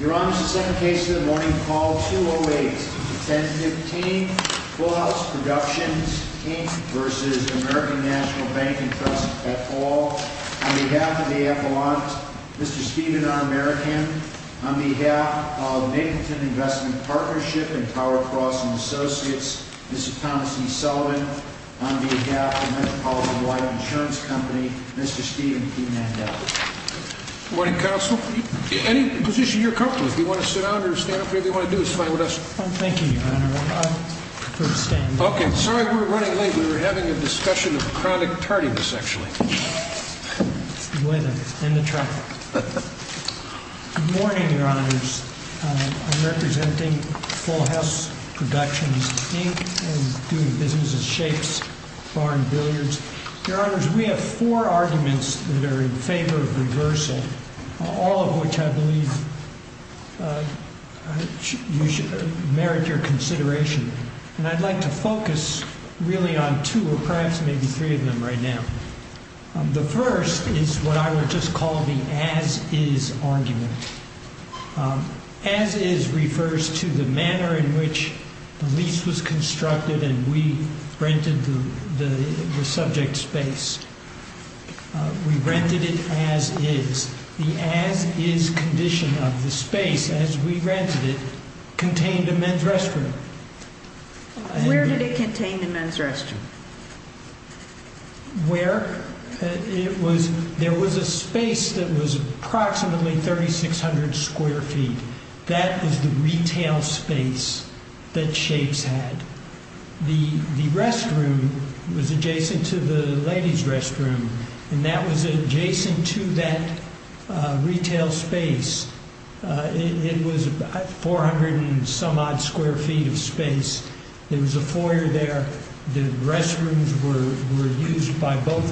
Your Honor, this is the second case of the morning, call 208. Tentative team, Full House Productions, Inc. v. American National Bank and Trust, et al. On behalf of the Appellant, Mr. Steven R. Merican. On behalf of Namington Investment Partnership and Power Crossing Associates, Mr. Thomas E. Sullivan. On behalf of Metropolitan Light Insurance Company, Mr. Steven P. Mandela. Good morning, Counsel. Any position you're comfortable with. If you want to sit down or stand up, whatever you want to do is fine with us. Thank you, Your Honor. I prefer to stand. Okay. Sorry we're running late. We were having a discussion of chronic tardiness, actually. It's the weather and the traffic. Good morning, Your Honors. I'm representing Full House Productions, Inc. and doing business as shapes, barring billiards. Your Honors, we have four arguments that are in favor of reversal, all of which I believe merit your consideration. And I'd like to focus really on two or perhaps maybe three of them right now. The first is what I would just call the as-is argument. As-is refers to the manner in which the lease was constructed and we rented the subject space. We rented it as-is. The as-is condition of the space as we rented it contained a men's restroom. Where did it contain the men's restroom? Where? There was a space that was approximately 3,600 square feet. That is the retail space that shapes had. The restroom was adjacent to the ladies' restroom, and that was adjacent to that retail space. It was 400 and some odd square feet of space. There was a foyer there. The restrooms were used by both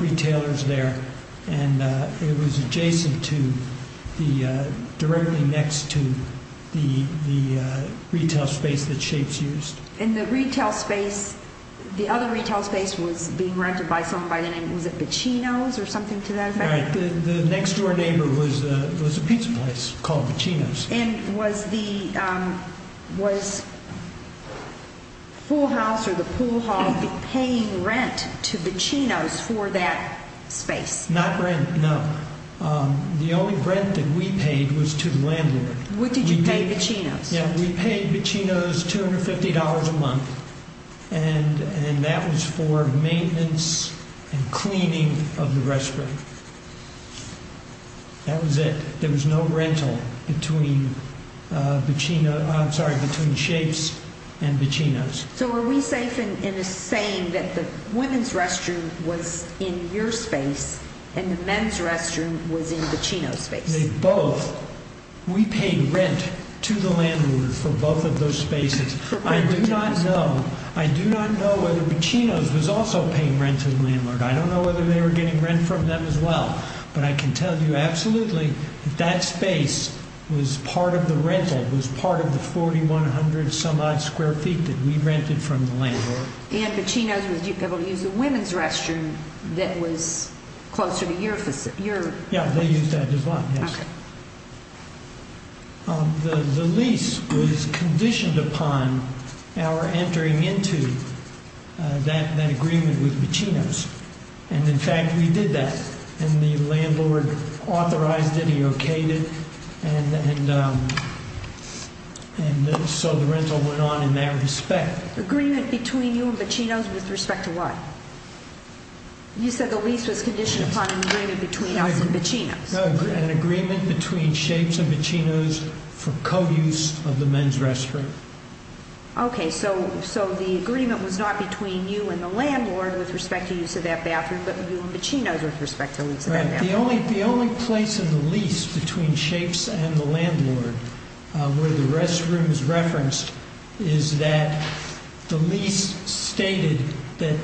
retailers there, and it was adjacent to, directly next to the retail space that shapes used. And the retail space, the other retail space was being rented by someone by the name, was it Bacinos or something to that effect? Right. The next-door neighbor was a pizza place called Bacinos. And was the pool house or the pool hall paying rent to Bacinos for that space? Not rent, no. The only rent that we paid was to the landlord. What did you pay Bacinos? We paid Bacinos $250 a month, and that was for maintenance and cleaning of the restroom. That was it. There was no rental between shapes and Bacinos. So were we safe in saying that the women's restroom was in your space and the men's restroom was in Bacinos' space? They both. We paid rent to the landlord for both of those spaces. I do not know whether Bacinos was also paying rent to the landlord. I don't know whether they were getting rent from them as well. But I can tell you absolutely that that space was part of the rental, was part of the 4,100-some-odd square feet that we rented from the landlord. And Bacinos was able to use the women's restroom that was closer to your place? Yeah, they used that as well, yes. The lease was conditioned upon our entering into that agreement with Bacinos. And, in fact, we did that. And the landlord authorized it, he okayed it, and so the rental went on in that respect. Agreement between you and Bacinos with respect to what? You said the lease was conditioned upon an agreement between us and Bacinos. An agreement between shapes and Bacinos for co-use of the men's restroom. Okay, so the agreement was not between you and the landlord with respect to use of that bathroom, but you and Bacinos with respect to use of that bathroom. Right. The only place in the lease between shapes and the landlord where the restroom is referenced is that the lease stated that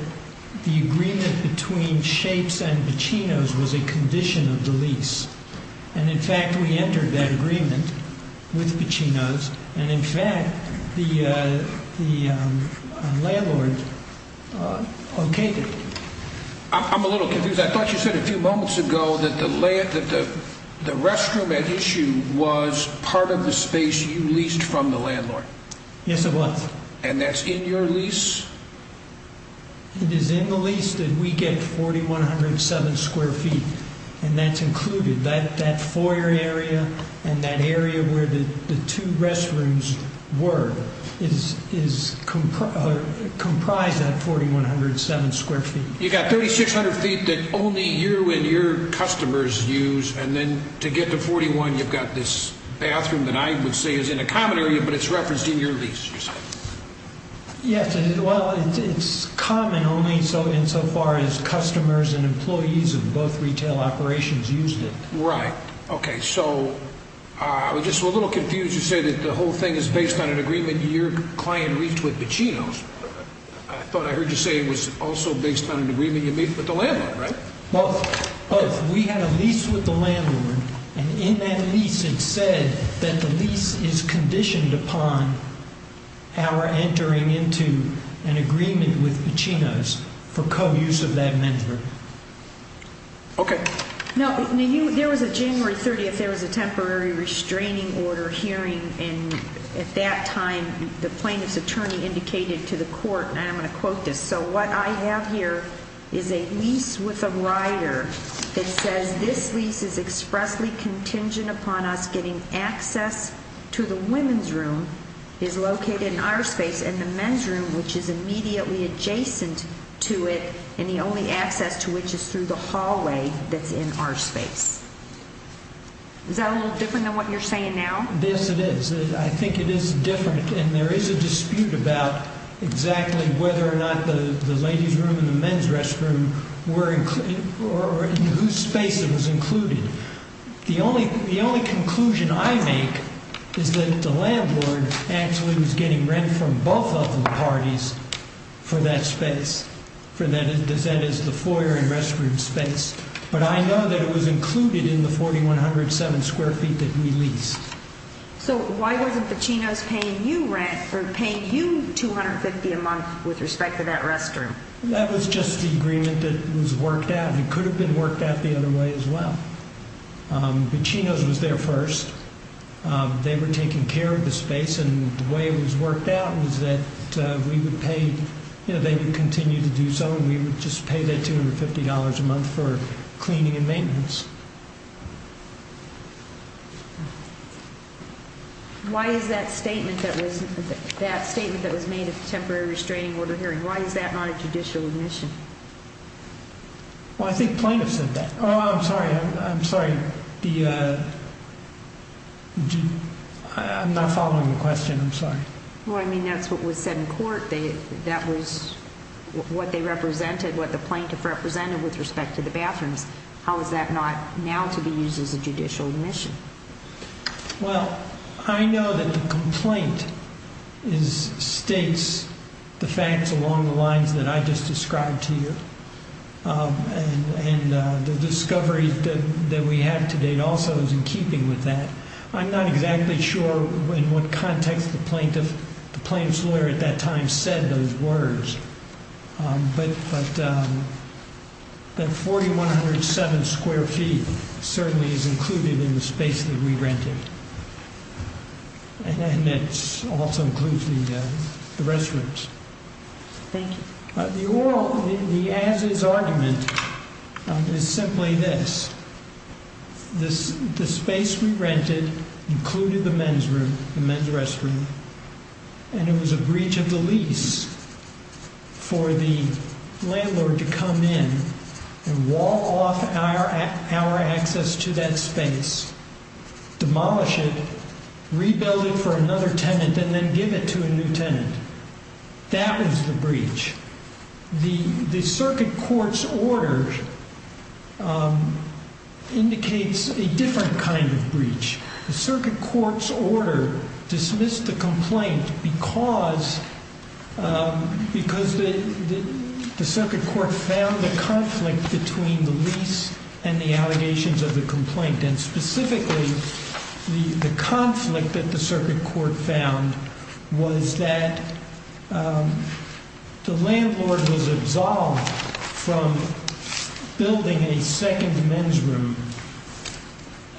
the agreement between shapes and Bacinos was a condition of the lease. And, in fact, we entered that agreement with Bacinos. And, in fact, the landlord okayed it. I'm a little confused. I thought you said a few moments ago that the restroom at issue was part of the space you leased from the landlord. Yes, it was. And that's in your lease? It is in the lease that we get 4,107 square feet, and that's included. That foyer area and that area where the two restrooms were comprise that 4,107 square feet. You've got 3,600 feet that only you and your customers use, and then to get to 41 you've got this bathroom that I would say is in a common area, but it's referenced in your lease. Yes, well, it's common only insofar as customers and employees of both retail operations used it. Right. Okay, so I was just a little confused to say that the whole thing is based on an agreement your client reached with Bacinos. I thought I heard you say it was also based on an agreement you made with the landlord, right? Well, we had a lease with the landlord, and in that lease it said that the lease is conditioned upon our entering into an agreement with Bacinos for co-use of that measure. Okay. Now, there was a January 30th, there was a temporary restraining order hearing, and at that time the plaintiff's attorney indicated to the court, and I'm going to quote this, so what I have here is a lease with a rider that says this lease is expressly contingent upon us getting access to the women's room, is located in our space, and the men's room, which is immediately adjacent to it, and the only access to which is through the hallway that's in our space. Is that a little different than what you're saying now? Yes, it is. I think it is different, and there is a dispute about exactly whether or not the ladies' room and the men's restroom were in whose space it was included. The only conclusion I make is that the landlord actually was getting rent from both of the parties for that space, for that is the foyer and restroom space, but I know that it was included in the 4,107 square feet that we leased. So why wasn't Pacino's paying you 250 a month with respect to that restroom? That was just the agreement that was worked out. It could have been worked out the other way as well. Pacino's was there first. They were taking care of the space, and the way it was worked out was that we would pay, and they would continue to do so, and we would just pay that $250 a month for cleaning and maintenance. Why is that statement that was made at the temporary restraining order hearing, why is that not a judicial admission? Well, I think plaintiffs said that. Oh, I'm sorry. I'm not following the question. I'm sorry. Well, I mean, that's what was said in court. That was what they represented, what the plaintiff represented with respect to the bathrooms. How is that not now to be used as a judicial admission? Well, I know that the complaint states the facts along the lines that I just described to you, and the discovery that we have to date also is in keeping with that. I'm not exactly sure in what context the plaintiff's lawyer at that time said those words, but that 4,107 square feet certainly is included in the space that we rented, and it also includes the restrooms. Thank you. The oral, the as-is argument is simply this. The space we rented included the men's room, the men's restroom, and it was a breach of the lease for the landlord to come in and wall off our access to that space, demolish it, rebuild it for another tenant, and then give it to a new tenant. That is the breach. The circuit court's order indicates a different kind of breach. The circuit court's order dismissed the complaint because the circuit court found the conflict between the lease and the allegations of the complaint, and specifically the conflict that the circuit court found was that the landlord was absolved from building a second men's room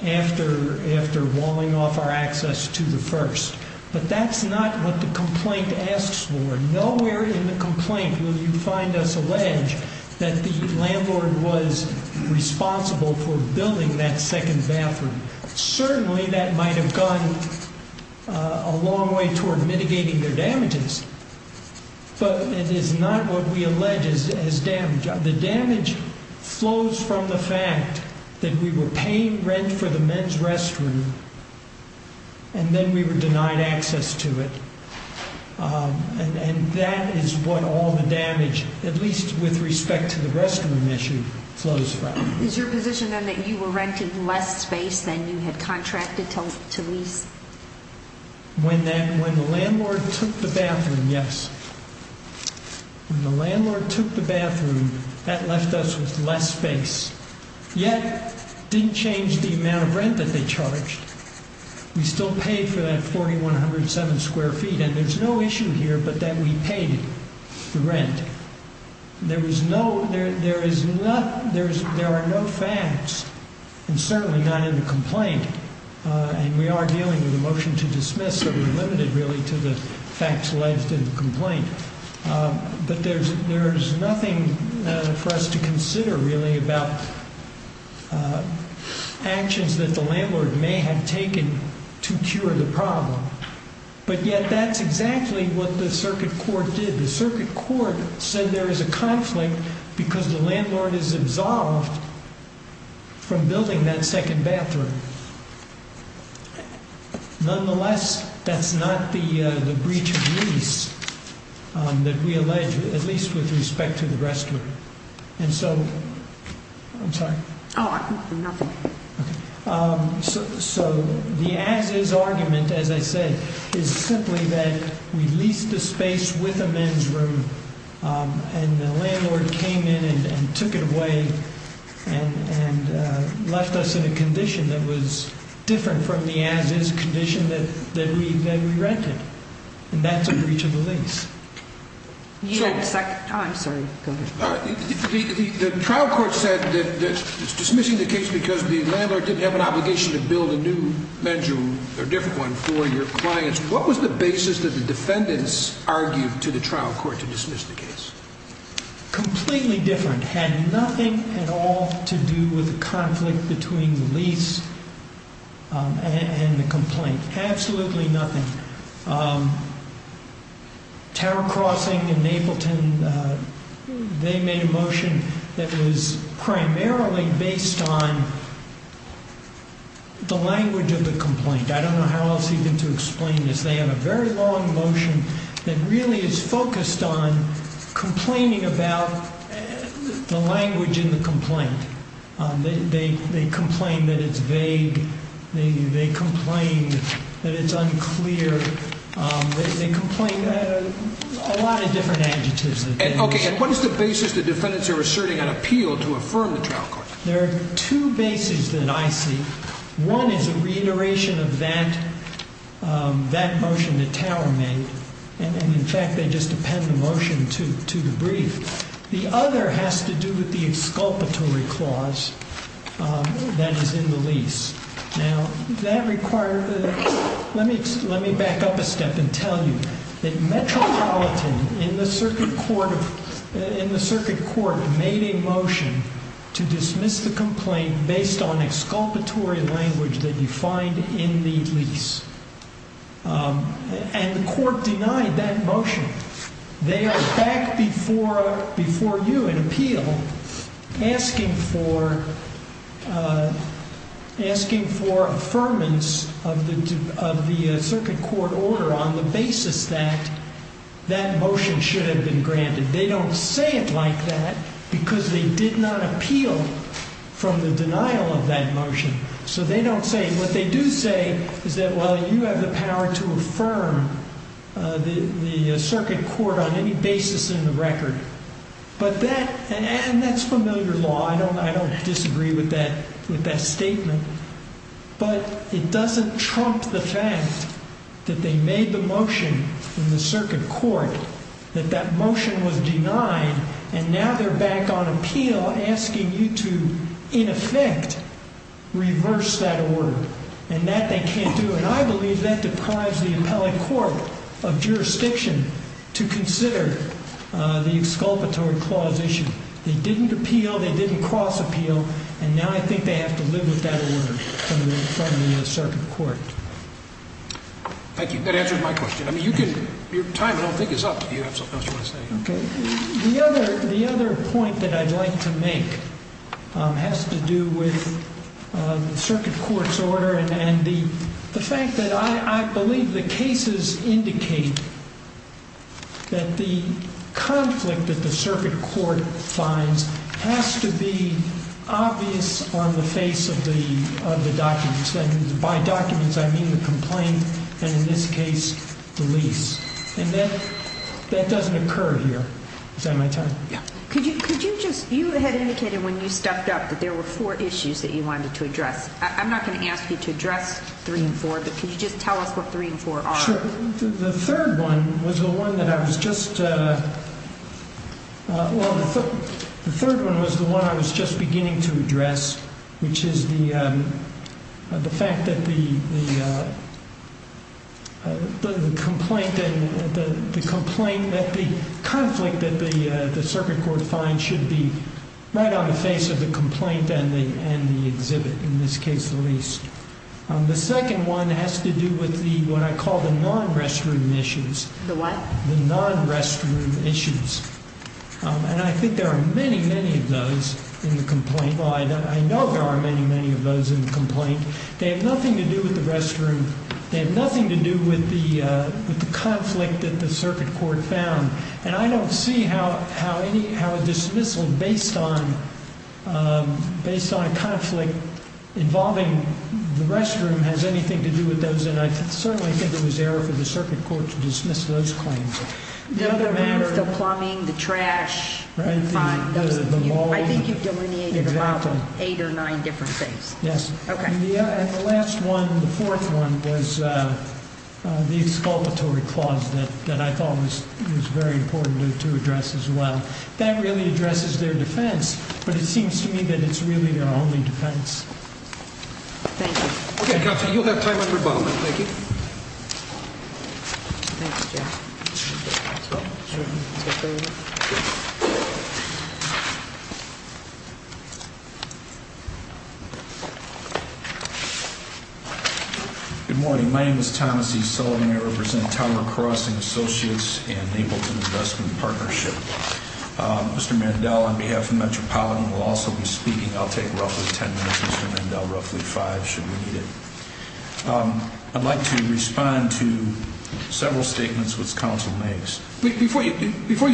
after walling off our access to the first. But that's not what the complaint asks for. Nowhere in the complaint will you find us allege that the landlord was responsible for building that second bathroom. Certainly that might have gone a long way toward mitigating their damages, but it is not what we allege as damage. The damage flows from the fact that we were paying rent for the men's restroom and then we were denied access to it, and that is what all the damage, at least with respect to the restroom issue, flows from. Is your position then that you were rented less space than you had contracted to lease? When the landlord took the bathroom, yes. When the landlord took the bathroom, that left us with less space, yet didn't change the amount of rent that they charged. We still paid for that 4,107 square feet, and there's no issue here but that we paid the rent. There are no facts, and certainly not in the complaint, and we are dealing with a motion to dismiss, so we're limited really to the facts left in the complaint. But there's nothing for us to consider really about actions that the landlord may have taken to cure the problem. But yet that's exactly what the circuit court did. The circuit court said there is a conflict because the landlord is absolved from building that second bathroom. Nonetheless, that's not the breach of lease that we allege, at least with respect to the restroom. And so, I'm sorry. Oh, nothing. So, the as-is argument, as I said, is simply that we leased the space with a men's room, and the landlord came in and took it away and left us in a condition that was different from the as-is condition that we rented. And that's a breach of the lease. I'm sorry. The trial court said that dismissing the case because the landlord didn't have an obligation to build a new men's room or a different one for your clients. What was the basis that the defendants argued to the trial court to dismiss the case? Completely different. Had nothing at all to do with the conflict between the lease and the complaint. Absolutely nothing. Tower Crossing and Mapleton, they made a motion that was primarily based on the language of the complaint. I don't know how else even to explain this. They have a very long motion that really is focused on complaining about the language in the complaint. They complain that it's vague. They complain that it's unclear. They complain a lot of different adjectives. Okay, and what is the basis the defendants are asserting on appeal to affirm the trial court? There are two bases that I see. One is a reiteration of that motion that Tower made. And, in fact, they just append the motion to the brief. The other has to do with the exculpatory clause that is in the lease. Now, that requires, let me back up a step and tell you that Metropolitan in the circuit court made a motion to dismiss the complaint based on exculpatory language that you find in the lease. And the court denied that motion. They are back before you in appeal asking for affirmance of the circuit court order on the basis that that motion should have been granted. They don't say it like that because they did not appeal from the denial of that motion. So they don't say it. What they do say is that, well, you have the power to affirm the circuit court on any basis in the record. And that's familiar law. I don't disagree with that statement. But it doesn't trump the fact that they made the motion in the circuit court that that motion was denied. And now they're back on appeal asking you to, in effect, reverse that order. And that they can't do. And I believe that deprives the appellate court of jurisdiction to consider the exculpatory clause issue. They didn't appeal. They didn't cross appeal. And now I think they have to live with that order from the circuit court. Thank you. That answers my question. I mean, you can ‑‑ your time, I don't think, is up. Do you have something else you want to say? Okay. The other point that I'd like to make has to do with the circuit court's order. And the fact that I believe the cases indicate that the conflict that the circuit court finds has to be obvious on the face of the documents. And by documents, I mean the complaint and, in this case, the lease. And that doesn't occur here. Is that my time? Yeah. Could you just ‑‑ you had indicated when you stepped up that there were four issues that you wanted to address. I'm not going to ask you to address three and four, but could you just tell us what three and four are? Sure. The third one was the one that I was just ‑‑ well, the third one was the one I was just beginning to address, which is the fact that the complaint that the conflict that the circuit court finds should be right on the face of the complaint and the exhibit, in this case, the lease. The second one has to do with what I call the non‑restroom issues. The what? The non‑restroom issues. And I think there are many, many of those in the complaint. Well, I know there are many, many of those in the complaint. They have nothing to do with the restroom. They have nothing to do with the conflict that the circuit court found. And I don't see how a dismissal based on a conflict involving the restroom has anything to do with those. And I certainly think it was error for the circuit court to dismiss those claims. The plumbing, the trash, fine. I think you delineated about eight or nine different things. Yes. Okay. And the last one, the fourth one, was the exculpatory clause that I thought was very important to address as well. That really addresses their defense, but it seems to me that it's really their only defense. Thank you. Okay, counsel, you'll have time on rebuttal. Thank you. Thanks, Jeff. Good morning. My name is Thomas E. Sullivan. I represent Tower Crossing Associates and Ableton Investment Partnership. Mr. Mandel, on behalf of Metropolitan, will also be speaking. I'll take roughly ten minutes. Mr. Mandel, roughly five, should we need it. I'd like to respond to several statements which counsel makes. Before you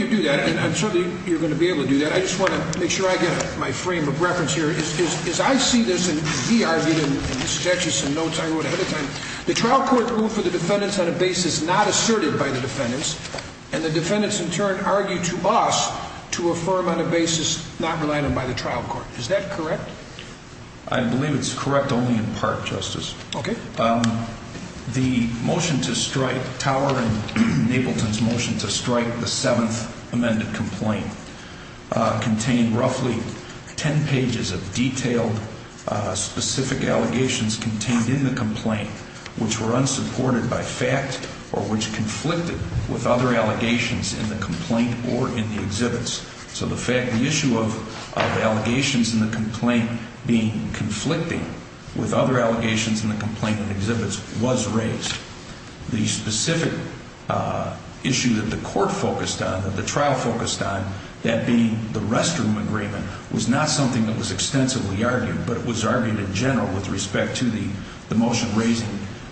do that, and I'm sure you're going to be able to do that, I just want to make sure I get my frame of reference here. As I see this, and he argued in his statutes and notes I wrote ahead of time, the trial court ruled for the defendants on a basis not asserted by the defendants, and the defendants, in turn, argued to us to affirm on a basis not related by the trial court. Is that correct? I believe it's correct only in part, Justice. Okay. The motion to strike Tower and Ableton's motion to strike the seventh amended complaint contained roughly ten pages of detailed, specific allegations contained in the complaint which were unsupported by fact or which conflicted with other allegations in the complaint or in the exhibits. So the issue of allegations in the complaint being conflicting with other allegations in the complaint and exhibits was raised. The specific issue that the court focused on, that the trial focused on, that being the restroom agreement, was not something that was extensively argued, but it was argued in general with respect to the motion raising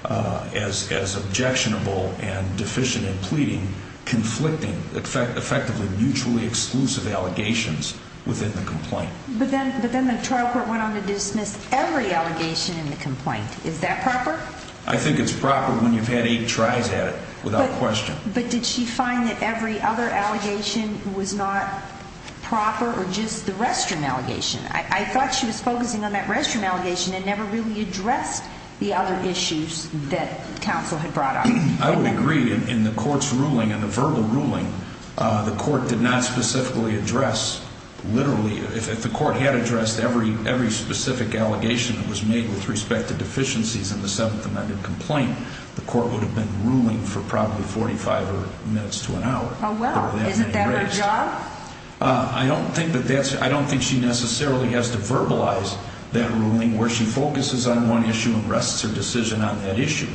as objectionable and deficient in pleading conflicting effectively mutually exclusive allegations within the complaint. But then the trial court went on to dismiss every allegation in the complaint. Is that proper? I think it's proper when you've had eight tries at it without question. But did she find that every other allegation was not proper or just the restroom allegation? I thought she was focusing on that restroom allegation and never really addressed the other issues that counsel had brought up. I would agree. In the court's ruling, in the verbal ruling, the court did not specifically address literally if the court had addressed every specific allegation that was made with respect to deficiencies in the seventh amended complaint, the court would have been ruling for probably 45 minutes to an hour. Oh, well. Isn't that her job? I don't think she necessarily has to verbalize that ruling where she focuses on one issue and rests her decision on that issue.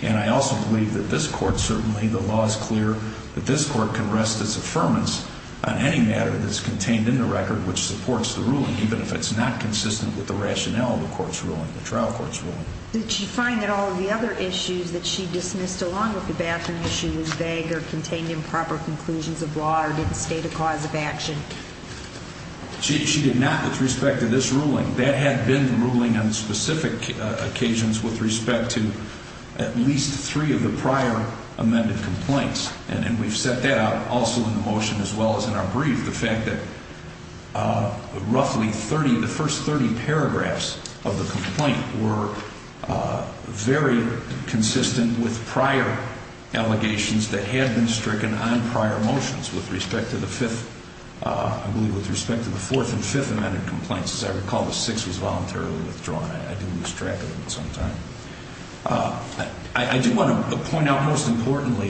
And I also believe that this court, certainly the law is clear, that this court can rest its affirmance on any matter that's contained in the record which supports the ruling, even if it's not consistent with the rationale of the court's ruling, the trial court's ruling. Did she find that all of the other issues that she dismissed along with the bathroom issue was vague or contained improper conclusions of law or didn't state a cause of action? She did not with respect to this ruling. That had been the ruling on specific occasions with respect to at least three of the prior amended complaints, and we've set that out also in the motion as well as in our brief, the fact that roughly 30, the first 30 paragraphs of the complaint were very consistent with prior allegations that had been stricken on prior motions with respect to the fifth, I believe with respect to the fourth and fifth amended complaints. As I recall, the sixth was voluntarily withdrawn. I do lose track of it sometimes. I do want to point out most importantly,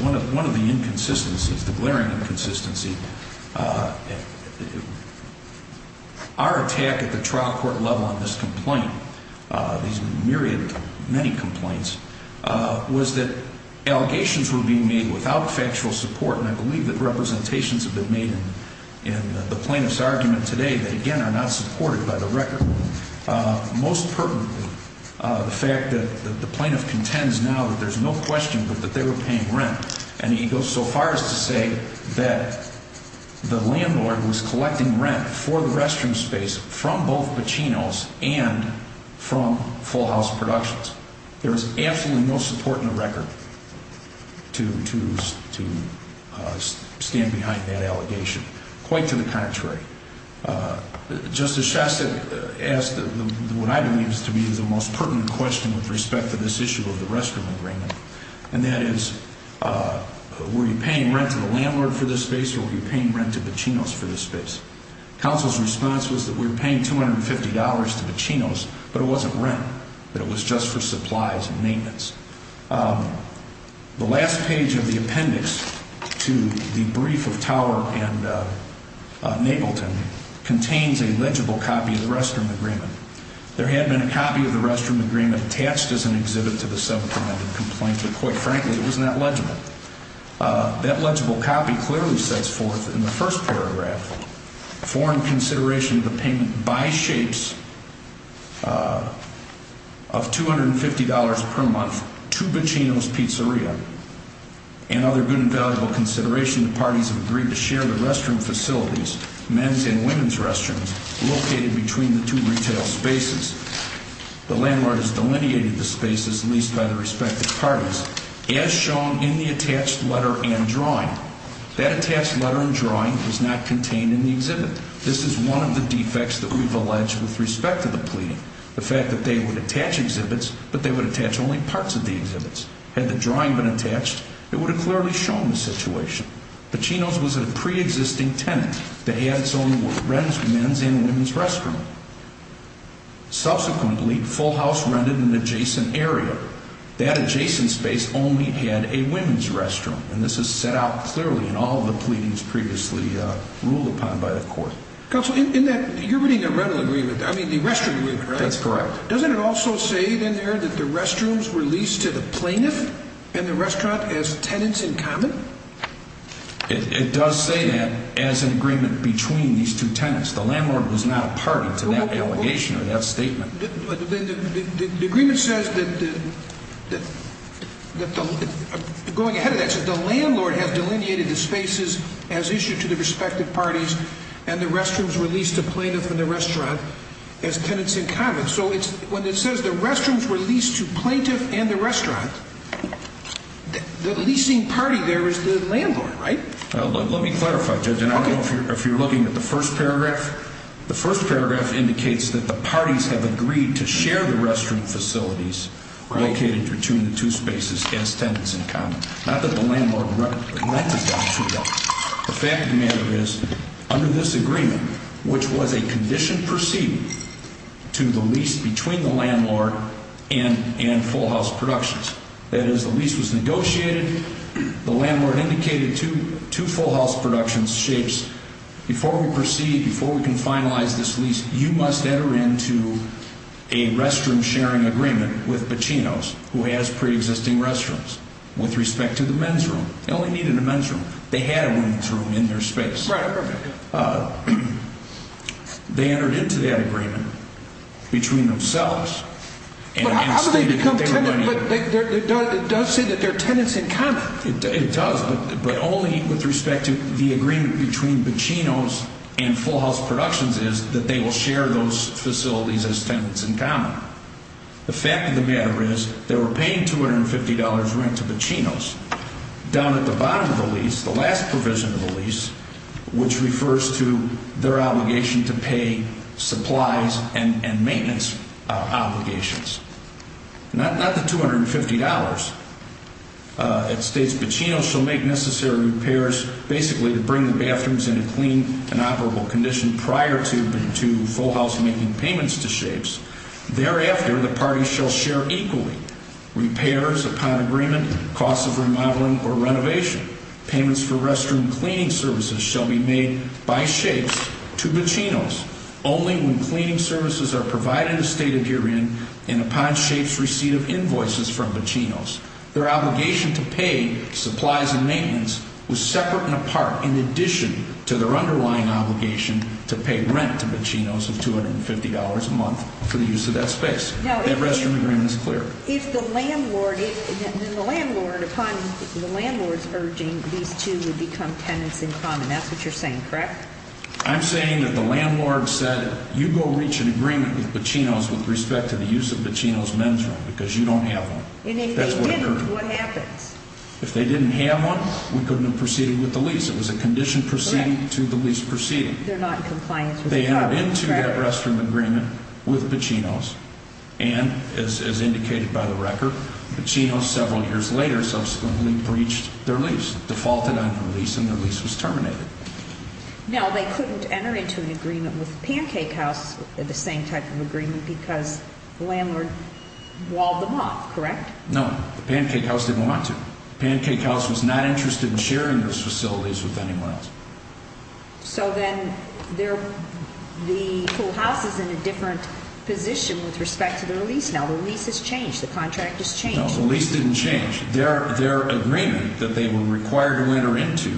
one of the inconsistencies, the glaring inconsistency, our attack at the trial court level on this complaint, these myriad, many complaints, was that allegations were being made without factual support, and I believe that representations have been made in the plaintiff's argument today that, again, are not supported by the record. Most pertinently, the fact that the plaintiff contends now that there's no question that they were paying rent, and he goes so far as to say that the landlord was collecting rent for the restroom space from both Pacino's and from Full House Productions. There is absolutely no support in the record to stand behind that allegation. Quite to the contrary, Justice Shastak asked what I believe is to be the most pertinent question with respect to this issue of the restroom agreement, and that is were you paying rent to the landlord for this space or were you paying rent to Pacino's for this space? Counsel's response was that we were paying $250 to Pacino's, but it wasn't rent, that it was just for supplies and maintenance. The last page of the appendix to the brief of Tower and Napleton contains a legible copy of the restroom agreement. There had been a copy of the restroom agreement attached as an exhibit to the subcommittee complaint, but quite frankly, it was not legible. That legible copy clearly sets forth in the first paragraph foreign consideration of the payment by shapes of $250 per month to Pacino's Pizzeria and other good and valuable consideration that parties have agreed to share the restroom facilities, men's and women's restrooms, located between the two retail spaces. The landlord has delineated the spaces leased by the respective parties. As shown in the attached letter and drawing, that attached letter and drawing was not contained in the exhibit. This is one of the defects that we've alleged with respect to the plea, the fact that they would attach exhibits, but they would attach only parts of the exhibits. Had the drawing been attached, it would have clearly shown the situation. Pacino's was a pre-existing tenant that had its own men's and women's restroom. Subsequently, Full House rented an adjacent area. That adjacent space only had a women's restroom, and this is set out clearly in all the pleadings previously ruled upon by the court. Counsel, in that, you're reading the rental agreement, I mean the restroom agreement, right? That's correct. Doesn't it also say in there that the restrooms were leased to the plaintiff and the restaurant as tenants in common? It does say that as an agreement between these two tenants. The landlord was not a party to that allegation or that statement. The agreement says that going ahead of that, the landlord has delineated the spaces as issued to the respective parties and the restrooms were leased to plaintiff and the restaurant as tenants in common. So when it says the restrooms were leased to plaintiff and the restaurant, the leasing party there is the landlord, right? Let me clarify, Judge, and I don't know if you're looking at the first paragraph. The first paragraph indicates that the parties have agreed to share the restroom facilities located between the two spaces as tenants in common. Not that the landlord granted that to them. The fact of the matter is, under this agreement, which was a condition proceeding to the lease between the landlord and Full House Productions, that is, the lease was negotiated, the landlord indicated to Full House Productions, before we proceed, before we can finalize this lease, you must enter into a restroom-sharing agreement with Pacino's, who has pre-existing restrooms, with respect to the men's room. They only needed a men's room. They had a women's room in their space. They entered into that agreement between themselves and stated that they were going to... But how did they become tenants? It does say that they're tenants in common. It does, but only with respect to the agreement between Pacino's and Full House Productions is that they will share those facilities as tenants in common. The fact of the matter is, they were paying $250 rent to Pacino's, down at the bottom of the lease, the last provision of the lease, which refers to their obligation to pay supplies and maintenance obligations. Not the $250. It states, Pacino's shall make necessary repairs, basically to bring the bathrooms in a clean and operable condition prior to Full House making payments to Shapes. Thereafter, the parties shall share equally, repairs upon agreement, costs of remodeling or renovation. Payments for restroom cleaning services shall be made by Shapes to Pacino's, only when cleaning services are provided as stated herein, and upon Shapes' receipt of invoices from Pacino's. Their obligation to pay supplies and maintenance was separate and apart, in addition to their underlying obligation to pay rent to Pacino's of $250 a month for the use of that space. That restroom agreement is clear. If the landlord, upon the landlord's urging, these two would become tenants in common. That's what you're saying, correct? I'm saying that the landlord said, you go reach an agreement with Pacino's with respect to the use of Pacino's men's room because you don't have one. And if they didn't, what happens? If they didn't have one, we couldn't have proceeded with the lease. It was a condition proceeding to the lease proceeding. They're not in compliance with the contract. They entered into that restroom agreement with Pacino's, and as indicated by the record, Pacino's, several years later, subsequently breached their lease, defaulted on their lease, and their lease was terminated. Now, they couldn't enter into an agreement with Pancake House, the same type of agreement, because the landlord walled them off, correct? No, Pancake House didn't want to. Pancake House was not interested in sharing those facilities with anyone else. So then the whole house is in a different position with respect to their lease now. The lease has changed. The contract has changed. No, the lease didn't change. Their agreement that they were required to enter into